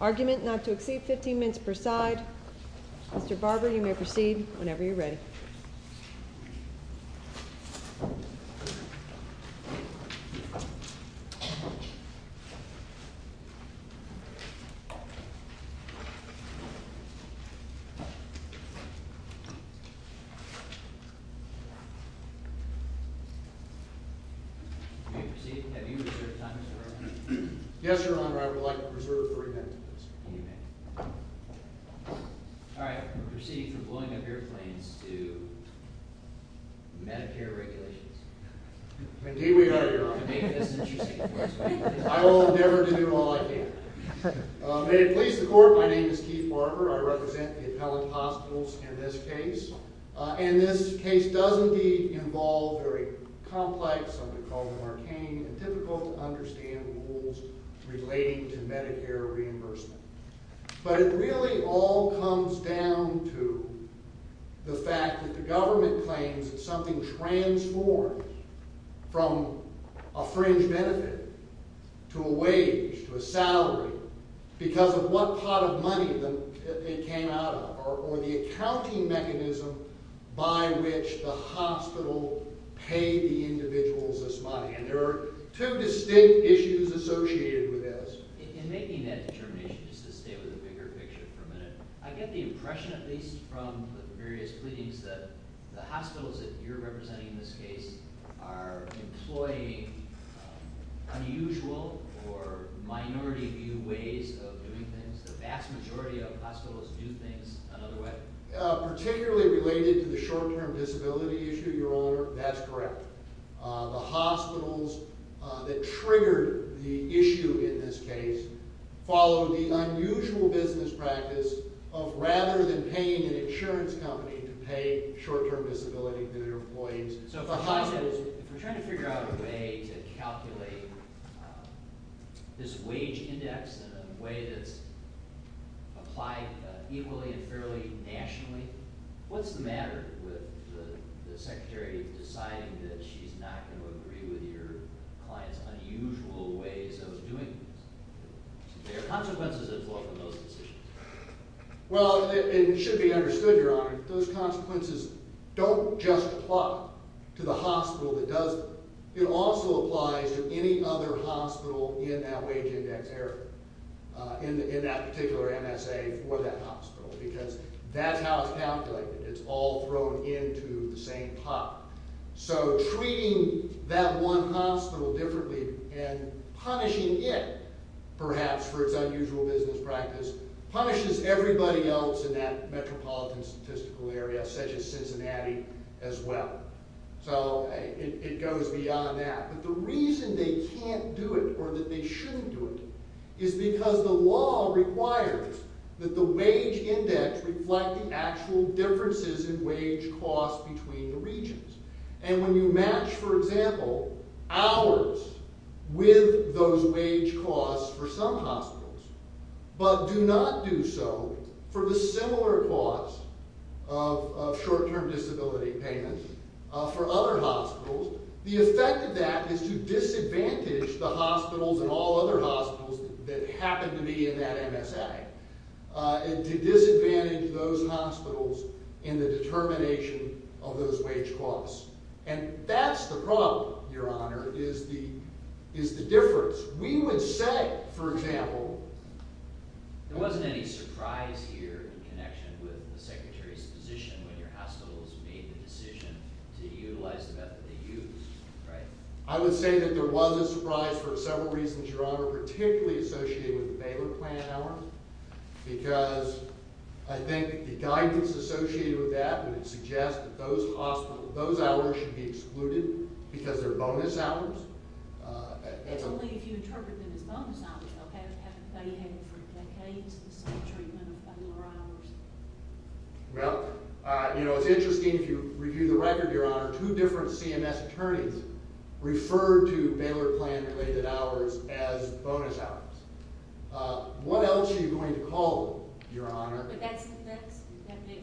Argument not to exceed 15 minutes per side. Mr. Barber, you may proceed whenever you're ready. Have you reserved time, Mr. Barber? Yes, Your Honor, I would like to reserve three minutes of this. All right, we'll proceed from blowing up airplanes to Medicare regulations. Indeed we are, Your Honor. I will endeavor to do all I can. May it please the Court, my name is Keith Barber. I represent the appellate hospitals in this case. And this case does indeed involve very complex, something called an arcane and difficult to understand rules relating to Medicare reimbursement. But it really all comes down to the fact that the government claims that something transformed from a fringe benefit to a wage to a salary because of what pot of money it came out of, or the accounting mechanism by which the hospital paid the individuals this money. There are two distinct issues associated with this. In making that determination, just to stay with the bigger picture for a minute, I get the impression at least from the various cleanings that the hospitals that you're representing in this case are employing unusual or minority view ways of doing things. The vast majority of hospitals do things another way. Particularly related to the short-term disability issue, Your Honor, that's correct. The hospitals that triggered the issue in this case followed the unusual business practice of rather than paying an insurance company to pay short-term disability to their employees, If we're trying to figure out a way to calculate this wage index in a way that's applied equally and fairly nationally, what's the matter with the secretary deciding that she's not going to agree with your client's unusual ways of doing things? There are consequences that fall from those decisions. Well, it should be understood, Your Honor, those consequences don't just apply to the hospital that does them. It also applies to any other hospital in that wage index area, in that particular MSA for that hospital, because that's how it's calculated. It's all thrown into the same pot. So treating that one hospital differently and punishing it, perhaps for its unusual business practice, punishes everybody else in that metropolitan statistical area, such as Cincinnati, as well. So it goes beyond that. But the reason they can't do it or that they shouldn't do it is because the law requires that the wage index reflect the actual differences in wage costs between the regions. And when you match, for example, hours with those wage costs for some hospitals, but do not do so for the similar cost of short-term disability payments for other hospitals, the effect of that is to disadvantage the hospitals and all other hospitals that happen to be in that MSA, and to disadvantage those hospitals in the determination of those wage costs. And that's the problem, Your Honor, is the difference. There wasn't any surprise here in connection with the Secretary's position when your hospitals made the decision to utilize the method they used, right? I would say that there was a surprise for several reasons, Your Honor, particularly associated with the Baylor plan hours, because I think the guidance associated with that would suggest that those hours should be excluded because they're bonus hours. It's only if you interpret them as bonus hours, though. Haven't they had for decades the same treatment of Baylor hours? Well, you know, it's interesting, if you review the record, Your Honor, two different CMS attorneys referred to Baylor plan-related hours as bonus hours. What else are you going to call them, Your Honor? But that begs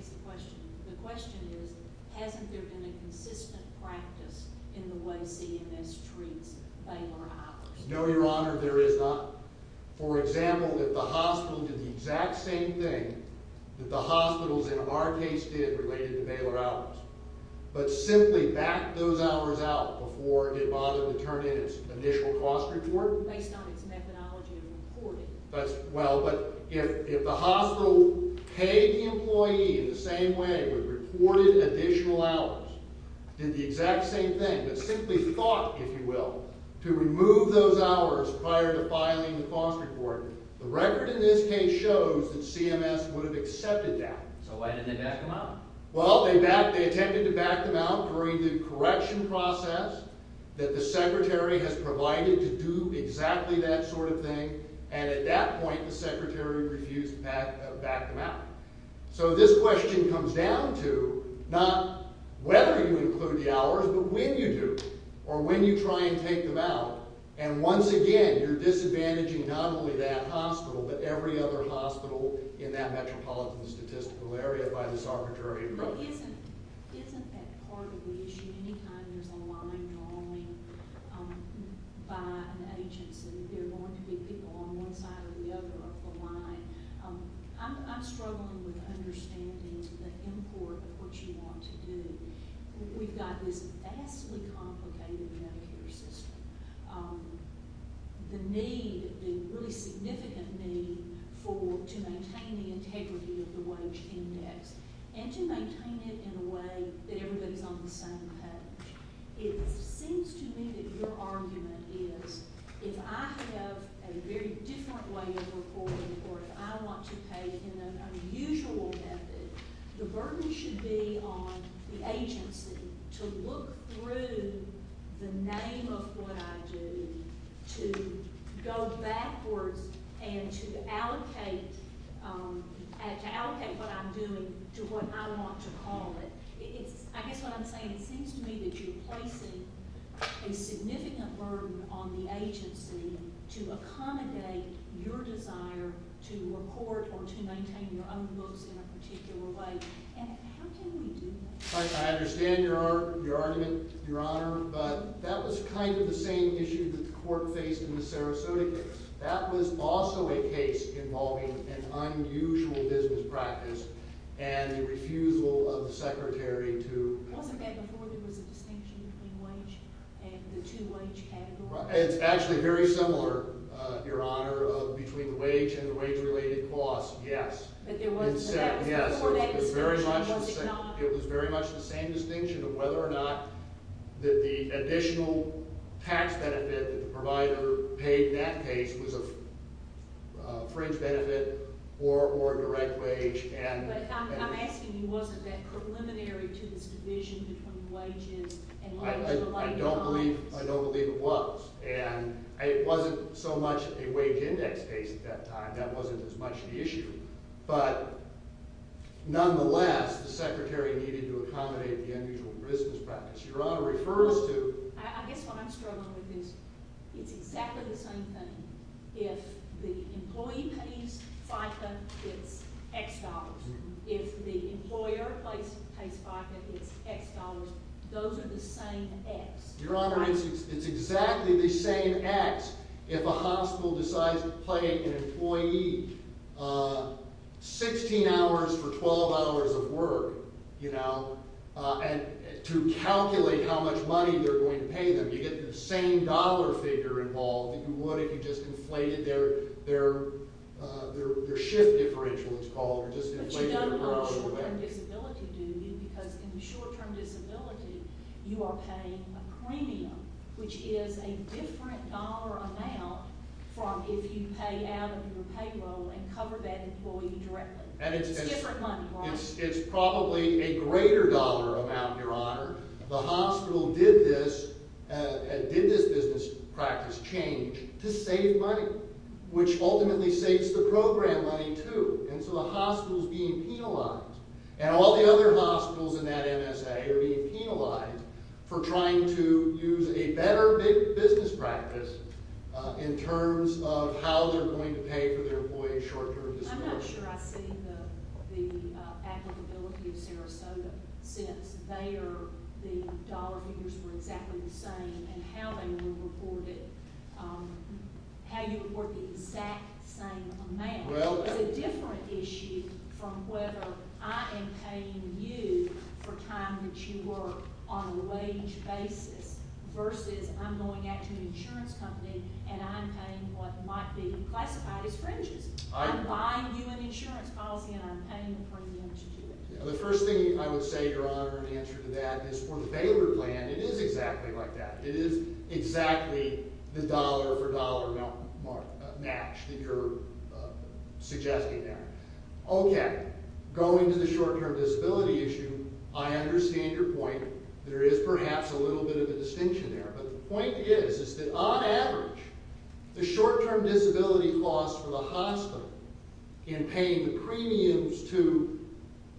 the question. The question is, hasn't there been a consistent practice in the way CMS treats Baylor hours? No, Your Honor, there is not. For example, if the hospital did the exact same thing that the hospitals in our case did related to Baylor hours, but simply backed those hours out before it did bother to turn in its initial cost report? Based on its methodology of reporting. Well, but if the hospital paid the employee in the same way, with reported additional hours, did the exact same thing, but simply thought, if you will, to remove those hours prior to filing the cost report, the record in this case shows that CMS would have accepted that. So why didn't they back them out? Well, they attempted to back them out during the correction process that the secretary has provided to do exactly that sort of thing. And at that point, the secretary refused to back them out. So this question comes down to not whether you include the hours, but when you do, or when you try and take them out. And once again, you're disadvantaging not only that hospital, but every other hospital in that metropolitan statistical area by this arbitrary approach. But isn't that part of the issue? Anytime there's a line going by an agency, there are going to be people on one side or the other of the line. I'm struggling with understanding the import of what you want to do. We've got this vastly complicated Medicare system. The need, the really significant need to maintain the integrity of the wage index and to maintain it in a way that everybody's on the same page. It seems to me that your argument is if I have a very different way of reporting or if I want to pay in an unusual method, the burden should be on the agency to look through the name of what I do to go backwards and to allocate what I'm doing to what I want to call it. I guess what I'm saying is it seems to me that you're placing a significant burden on the agency to accommodate your desire to report or to maintain your own books in a particular way. And how can we do that? I understand your argument, Your Honor, but that was kind of the same issue that the court faced in the Sarasota case. That was also a case involving an unusual business practice and the refusal of the secretary to… Wasn't that before there was a distinction between wage and the two-wage category? It's actually very similar, Your Honor, between the wage and the wage-related cost, yes. It was very much the same distinction of whether or not the additional tax benefit that the provider paid in that case was a fringe benefit or a direct wage. I'm asking you, wasn't that preliminary to this division between wages and wage-related costs? I don't believe it was. And it wasn't so much a wage-index case at that time. That wasn't as much the issue. But nonetheless, the secretary needed to accommodate the unusual business practice. Your Honor, it refers to… I guess what I'm struggling with is it's exactly the same thing. If the employee pays FICA, it's X dollars. If the employer pays FICA, it's X dollars. Those are the same X. Your Honor, it's exactly the same X if a hospital decides to pay an employee 16 hours for 12 hours of work, you know, to calculate how much money they're going to pay them. You get the same dollar figure involved that you would if you just inflated their shift differential, it's called, or just inflated it. But you don't have short-term disability, do you? Because in the short-term disability, you are paying a premium, which is a different dollar amount from if you pay out of your payroll and cover that employee directly. It's different money, right? It's probably a greater dollar amount, Your Honor. The hospital did this business practice change to save money, which ultimately saves the program money, too. And so the hospital is being penalized. And all the other hospitals in that MSA are being penalized for trying to use a better business practice in terms of how they're going to pay for their employee's short-term disability. I'm not sure I've seen the applicability of Sarasota since. They are—the dollar figures were exactly the same in how they were reported, how you report the exact same amount. It's a different issue from whether I am paying you for time that you work on a wage basis versus I'm going out to an insurance company and I'm paying what might be classified as fringes. I'm buying you an insurance policy and I'm paying a premium to do it. The first thing I would say, Your Honor, in answer to that is for the Baylor plan, it is exactly like that. It is exactly the dollar-for-dollar match that you're suggesting there. Okay. Going to the short-term disability issue, I understand your point. There is perhaps a little bit of a distinction there. But the point is that on average, the short-term disability cost for the hospital in paying the premiums to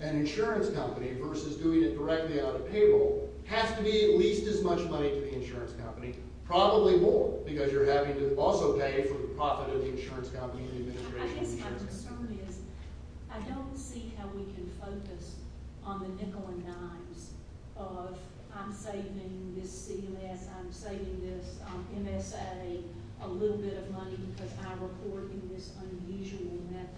an insurance company versus doing it directly out of payroll has to be at least as much money to the insurance company, probably more because you're having to also pay for the profit of the insurance company and the administration. I guess my concern is I don't see how we can focus on the nickel and dimes of I'm saving this CMS, I'm saving this MSA a little bit of money because I'm reporting this unusual method.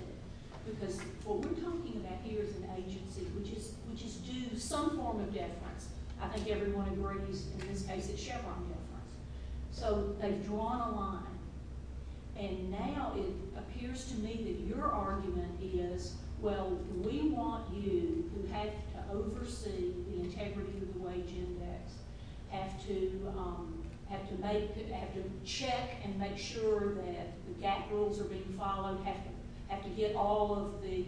Because what we're talking about here is an agency which is due some form of deference. I think everyone agrees in this case it's Chevron deference. So they've drawn a line. And now it appears to me that your argument is, well, we want you who have to oversee the integrity of the wage index, have to check and make sure that the gap rules are being followed, have to get all of the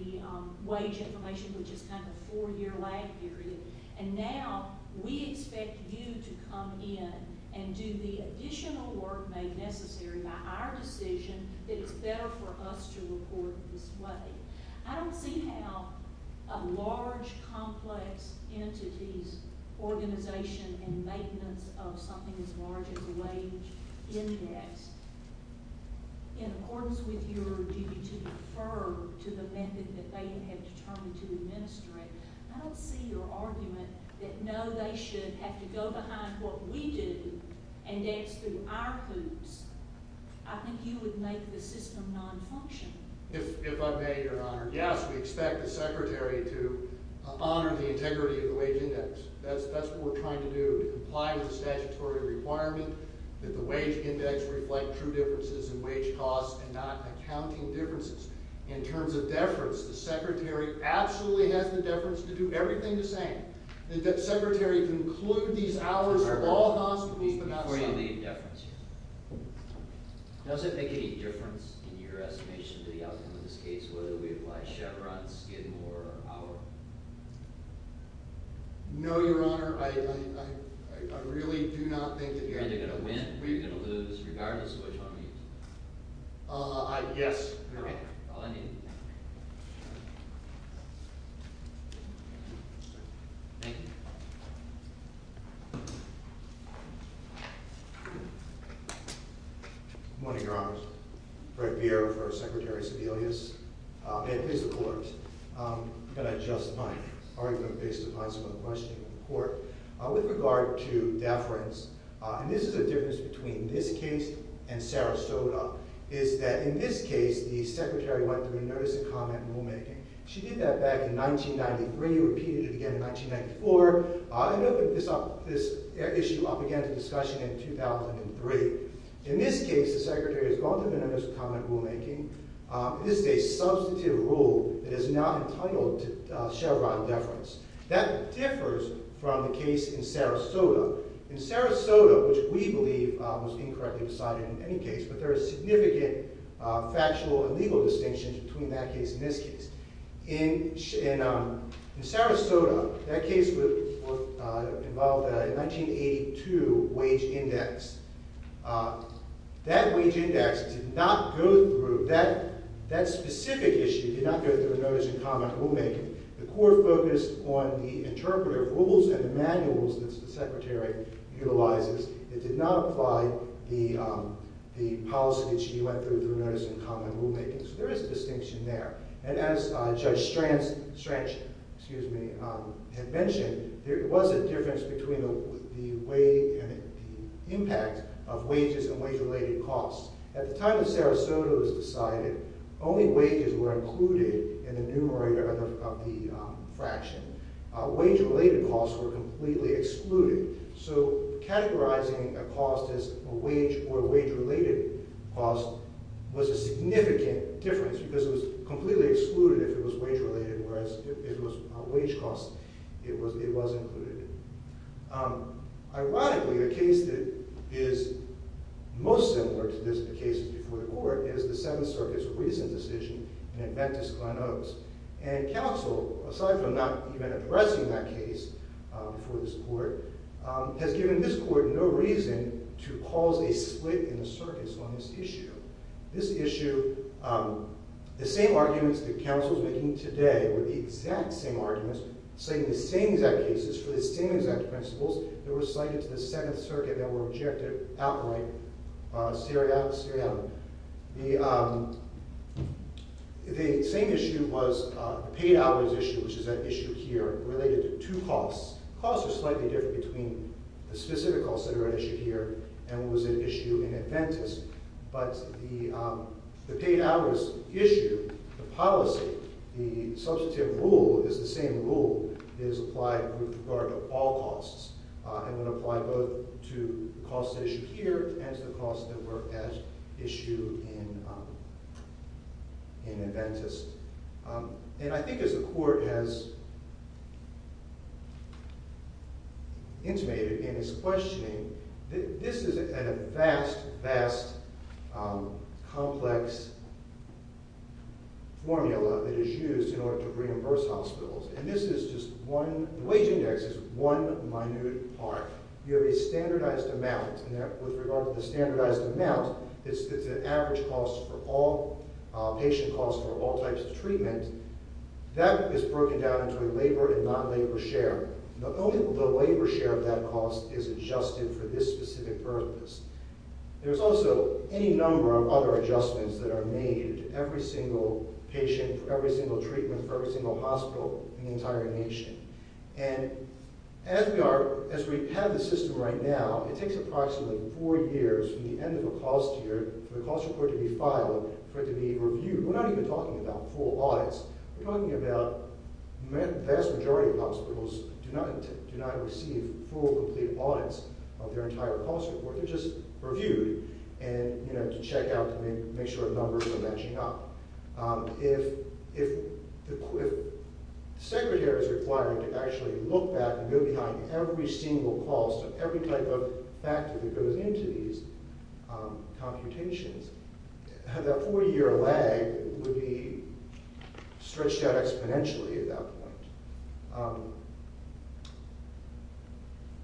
wage information, which is kind of a four-year lag period. And now we expect you to come in and do the additional work made necessary by our decision that it's better for us to report this way. I don't see how a large, complex entity's organization and maintenance of something as large as a wage index, in accordance with your duty to defer to the method that they have determined to administer it, I don't see your argument that, no, they should have to go behind what we do and index through our hoops. I think you would make the system nonfunctional. If I may, Your Honor, yes, we expect the Secretary to honor the integrity of the wage index. That's what we're trying to do, to comply with the statutory requirement that the wage index reflect true differences in wage costs and not accounting differences. In terms of deference, the Secretary absolutely has the deference to do everything the same, that the Secretary conclude these hours at all hospitals but not some. Does it make any difference in your estimation of the outcome of this case whether we apply Chevron, Skidmore, or Howard? No, Your Honor. I really do not think that you're going to lose regardless of which one we use. Yes, Your Honor. All I need. Thank you. Good morning, Your Honor. Fred Bier, First Secretary Sebelius. May I please have the floor? I'm going to adjust my argument based upon some of the questioning in court. With regard to deference, and this is a difference between this case and Sarasota, is that in this case, the Secretary went through a notice of comment rulemaking. She did that back in 1993, repeated it again in 1994. This issue up again to discussion in 2003. In this case, the Secretary has gone through a notice of comment rulemaking. This is a substantive rule that is not entitled to Chevron deference. That differs from the case in Sarasota. In Sarasota, which we believe was incorrectly decided in any case, but there are significant factual and legal distinctions between that case and this case. In Sarasota, that case involved a 1982 wage index. That wage index did not go through, that specific issue did not go through a notice of comment rulemaking. The court focused on the interpreter of rules and the manuals that the Secretary utilizes. It did not apply the policy that she went through, the notice of comment rulemaking. There is a distinction there. As Judge Strang had mentioned, there was a difference between the impact of wages and wage-related costs. At the time that Sarasota was decided, only wages were included in the numerator of the fraction. Wage-related costs were completely excluded. Categorizing a cost as a wage or a wage-related cost was a significant difference because it was completely excluded if it was wage-related, whereas if it was wage costs, it was included. Ironically, the case that is most similar to the cases before the court is the Seventh Circuit's recent decision in Adventist-Glen Oaks. And counsel, aside from not even addressing that case before this court, has given this court no reason to cause a split in the circuits on this issue. This issue, the same arguments that counsel is making today were the exact same arguments citing the same exact cases for the same exact principles that were cited to the Seventh Circuit that were objected outright. The same issue was the paid hours issue, which is at issue here, related to two costs. The costs are slightly different between the specific costs that are at issue here and what was at issue in Adventist. But the paid hours issue, the policy, the substantive rule is the same rule that is applied with regard to all costs and would apply both to the costs at issue here and to the costs that were at issue in Adventist. And I think as the court has intimated in its questioning, this is a vast, vast, complex formula that is used in order to reimburse hospitals. And this is just one, the wage index is one minute part. You have a standardized amount, and with regard to the standardized amount, it's an average cost for all patient costs for all types of treatment. That is broken down into a labor and non-labor share. The labor share of that cost is adjusted for this specific purpose. There's also any number of other adjustments that are made to every single patient for every single treatment for every single hospital in the entire nation. And as we are, as we have the system right now, it takes approximately four years from the end of a cost here for the cost report to be filed, for it to be reviewed. We're not even talking about full audits. We're talking about vast majority of hospitals do not receive full, complete audits of their entire cost report. They're just reviewed and, you know, to check out to make sure the numbers are matching up. If the secretary is required to actually look back and go behind every single cost of every type of factor that goes into these computations, that four-year lag would be stretched out exponentially at that point.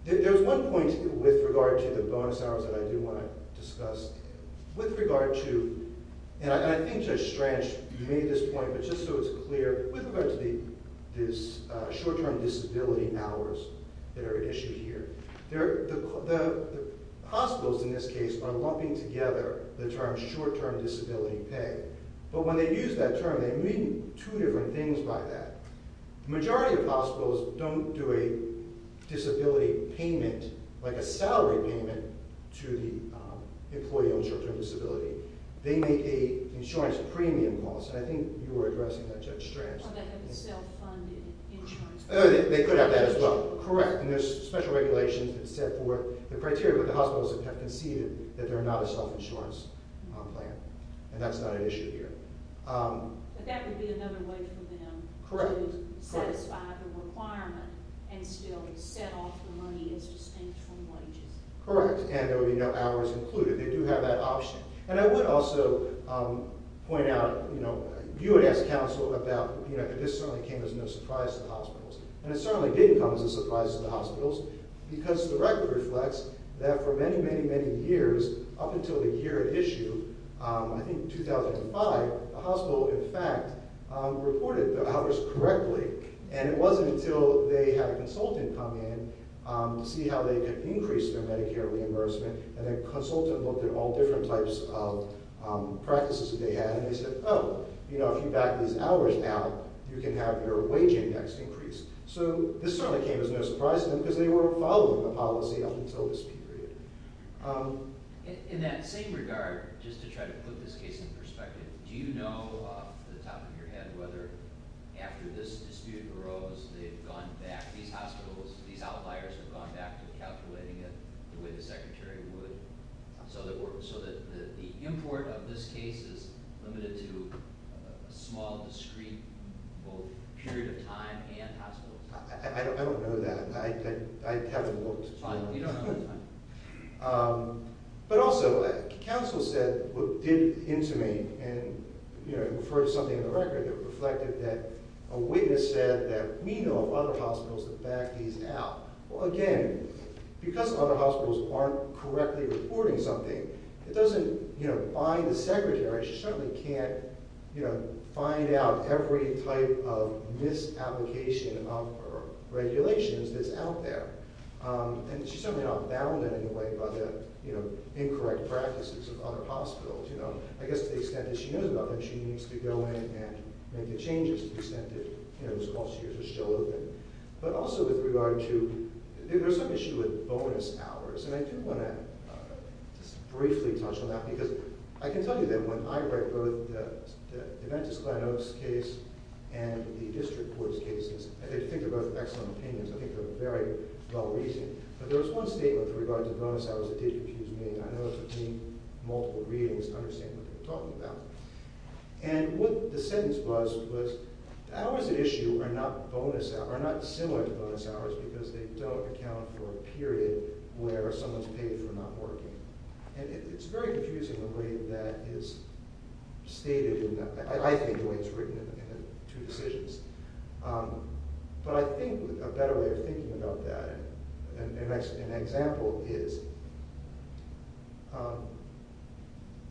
There's one point with regard to the bonus hours that I do want to discuss. With regard to, and I think Judge Strange made this point, but just so it's clear, with regard to the short-term disability hours that are issued here, the hospitals in this case are lumping together the term short-term disability pay. But when they use that term, they mean two different things by that. The majority of hospitals don't do a disability payment, like a salary payment, to the employee on short-term disability. They make a insurance premium cost, and I think you were addressing that, Judge Strange. They could have that as well. Correct. And there's special regulations that set forth the criteria, but the hospitals have conceded that they're not a self-insurance plan, and that's not an issue here. But that would be another way for them to satisfy the requirement and still set off the money and sustain from wages. Correct, and there would be no hours included. They do have that option. And I would also point out, you would ask counsel about, this certainly came as no surprise to the hospitals, and it certainly did come as a surprise to the hospitals, because the record reflects that for many, many, many years, up until the year at issue, I think 2005, the hospital, in fact, reported the hours correctly. And it wasn't until they had a consultant come in to see how they could increase their Medicare reimbursement, and a consultant looked at all different types of practices that they had, and they said, oh, if you back these hours now, you can have your wage index increased. So this certainly came as no surprise to them, because they were following the policy up until this period. In that same regard, just to try to put this case in perspective, do you know off the top of your head whether after this dispute arose, they've gone back, these hospitals, these outliers have gone back to calculating it the way the secretary would, so that the import of this case is limited to a small, discrete period of time and hospitals? I don't know that. I haven't looked. But also, counsel said, looked into me and referred to something in the record that reflected that a witness said that we know of other hospitals that back these out. Well, again, because other hospitals aren't correctly reporting something, it doesn't bind the secretary. She certainly can't find out every type of misapplication of regulations that's out there. And she's certainly not bounded, in a way, by the incorrect practices of other hospitals. I guess to the extent that she knows about them, she needs to go in and make the changes to the extent that those closures are still open. But also with regard to – there's some issue with bonus hours, and I do want to just briefly touch on that, because I can tell you that when I write both the Deventus-Glanos case and the district court's cases, I think they're both excellent opinions. I think they're very well-reasoned. But there was one statement with regard to bonus hours that did confuse me, and I know it took me multiple readings to understand what they were talking about. And what the sentence was, was the hours at issue are not similar to bonus hours because they don't account for a period where someone's paid for not working. And it's very confusing the way that is stated in the – I think the way it's written in the two decisions. But I think a better way of thinking about that, an example is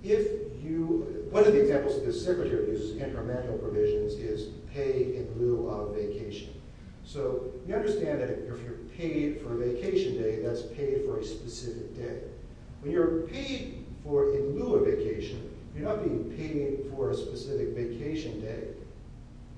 if you – one of the examples that the Secretary uses in her manual provisions is pay in lieu of vacation. So you understand that if you're paid for a vacation day, that's paid for a specific day. When you're paid for in lieu of vacation, you're not being paid for a specific vacation day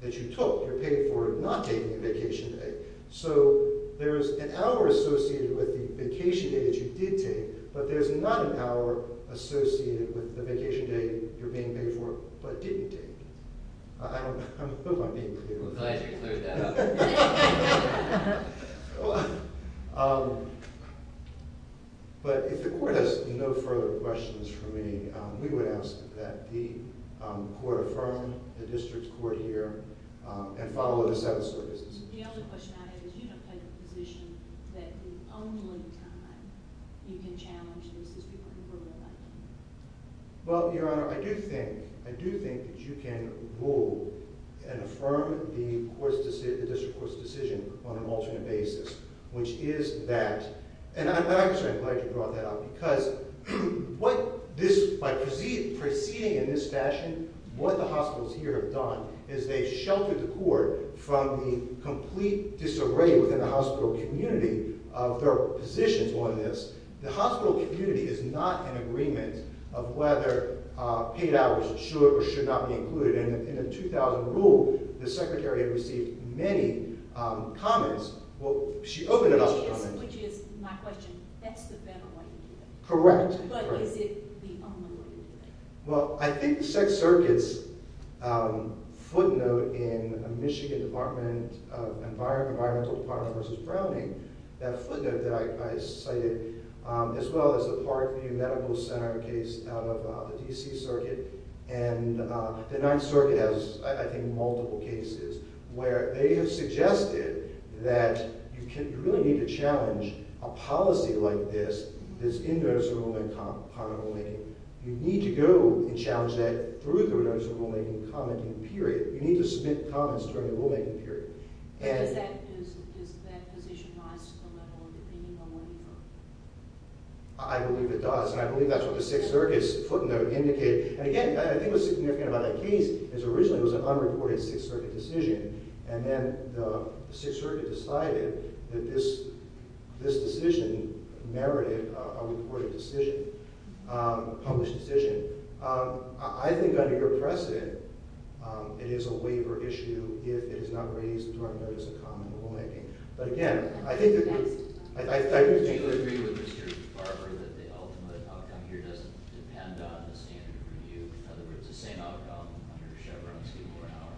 that you took. You're paid for not taking a vacation day. So there's an hour associated with the vacation day that you did take, but there's not an hour associated with the vacation day you're being paid for but didn't take. I don't know if I'm being clear. I'm glad you cleared that up. But if the court has no further questions for me, we would ask that the court affirm the district court here and follow the settled services. The only question I have is you don't have a position that the only time you can challenge this is before the election. Well, Your Honor, I do think that you can rule and affirm the district court's decision on an alternate basis, which is that – and I'm glad you brought that up because by proceeding in this fashion, what the hospitals here have done is they've sheltered the court from the complete disarray within the hospital community of their positions on this. The hospital community is not in agreement of whether paid hours should or should not be included. In the 2000 rule, the secretary had received many comments. Well, she opened it up to comments. Which is my question. That's the better way to do it. Correct. But is it the only way to do it? Well, I think the Sixth Circuit's footnote in a Michigan Department of Environmental Department v. Browning, that footnote that I cited, as well as the Parkview Medical Center case out of the D.C. Circuit, and the Ninth Circuit has, I think, multiple cases where they have suggested that you really need to challenge a policy like this that's in notice of rulemaking and comment rulemaking. You need to go and challenge that through the notice of rulemaking and commenting period. You need to submit comments during the rulemaking period. Does that position rise to the level of opinion or what do you know? I believe it does. And I believe that's what the Sixth Circuit's footnote indicated. And again, I think what's significant about that case is originally it was an unreported Sixth Circuit decision. And then the Sixth Circuit decided that this decision merited a reported decision, a published decision. I think under your precedent, it is a waiver issue if it is not raised during notice of comment rulemaking. But again, I think that the – Do you agree with Mr. Barber that the ultimate outcome here doesn't depend on the standard review? In other words, the same outcome under Chevron's people or not?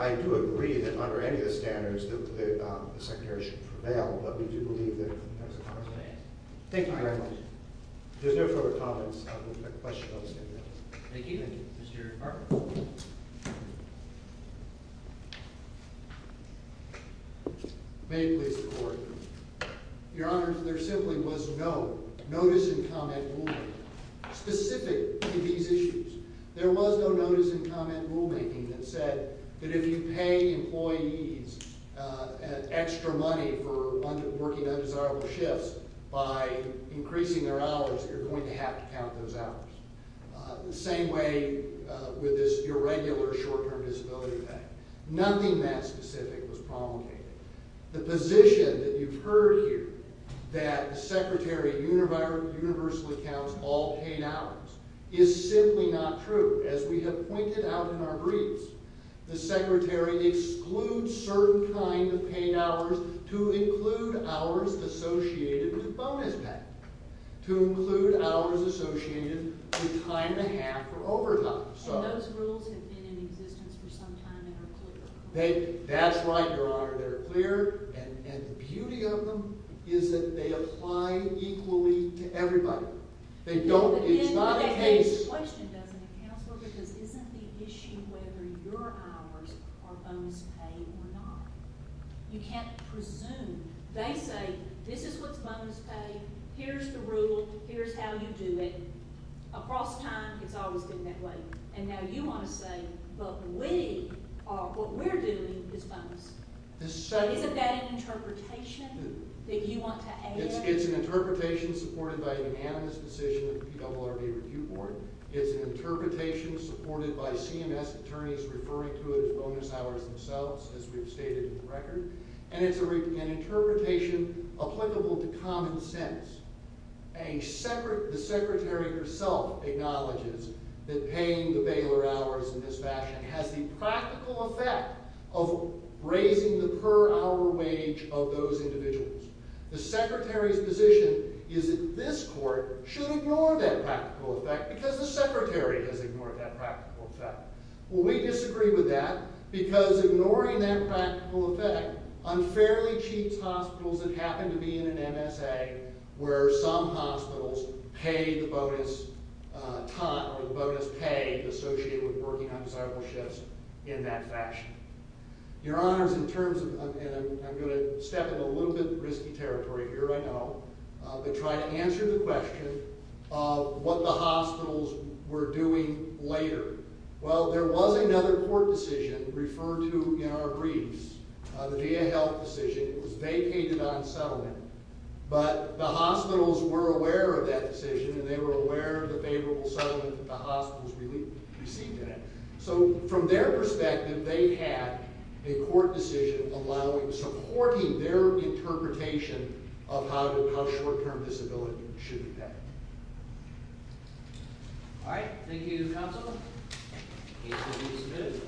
I do agree that under any of the standards, the Secretary should prevail. But we do believe that there's a – Okay. Thank you very much. If there's no further comments, I have a question. Thank you. Mr. Barber. May it please the Court. Your Honors, there simply was no notice and comment rulemaking specific to these issues. There was no notice and comment rulemaking that said that if you pay employees extra money for working undesirable shifts by increasing their hours, you're going to have to count those hours. The same way with this irregular short-term disability act. Nothing that specific was promulgated. The position that you've heard here that the Secretary universally counts all paid hours is simply not true. As we have pointed out in our briefs, the Secretary excludes certain kinds of paid hours to include hours associated with bonus pay, to include hours associated with time to have for overtime. And those rules have been in existence for some time and are clear. That's right, Your Honor. They're clear. And the beauty of them is that they apply equally to everybody. It's not a case – You can't presume. They say, this is what's bonus pay, here's the rule, here's how you do it. Across time, it's always been that way. And now you want to say, but we are – what we're doing is bonus. Isn't that an interpretation that you want to add? It's an interpretation supported by an unanimous decision of the PWRB Review Board. It's an interpretation supported by CMS attorneys referring to it as bonus hours themselves, as we've stated in the record. And it's an interpretation applicable to common sense. The Secretary herself acknowledges that paying the bailer hours in this fashion has the practical effect of raising the per hour wage of those individuals. The Secretary's position is that this court should ignore that practical effect because the Secretary has ignored that practical effect. Well, we disagree with that because ignoring that practical effect unfairly cheats hospitals that happen to be in an MSA where some hospitals pay the bonus time or the bonus pay associated with working on several shifts in that fashion. Your Honors, in terms of – and I'm going to step in a little bit of risky territory here, I know – but try to answer the question of what the hospitals were doing later. Well, there was another court decision referred to in our briefs, the VA Health decision. It was vacated on settlement. But the hospitals were aware of that decision, and they were aware of the favorable settlement that the hospitals received in it. So from their perspective, they had a court decision supporting their interpretation of how short-term disability should be paid. All right. Thank you, Counselor. Case will be submitted.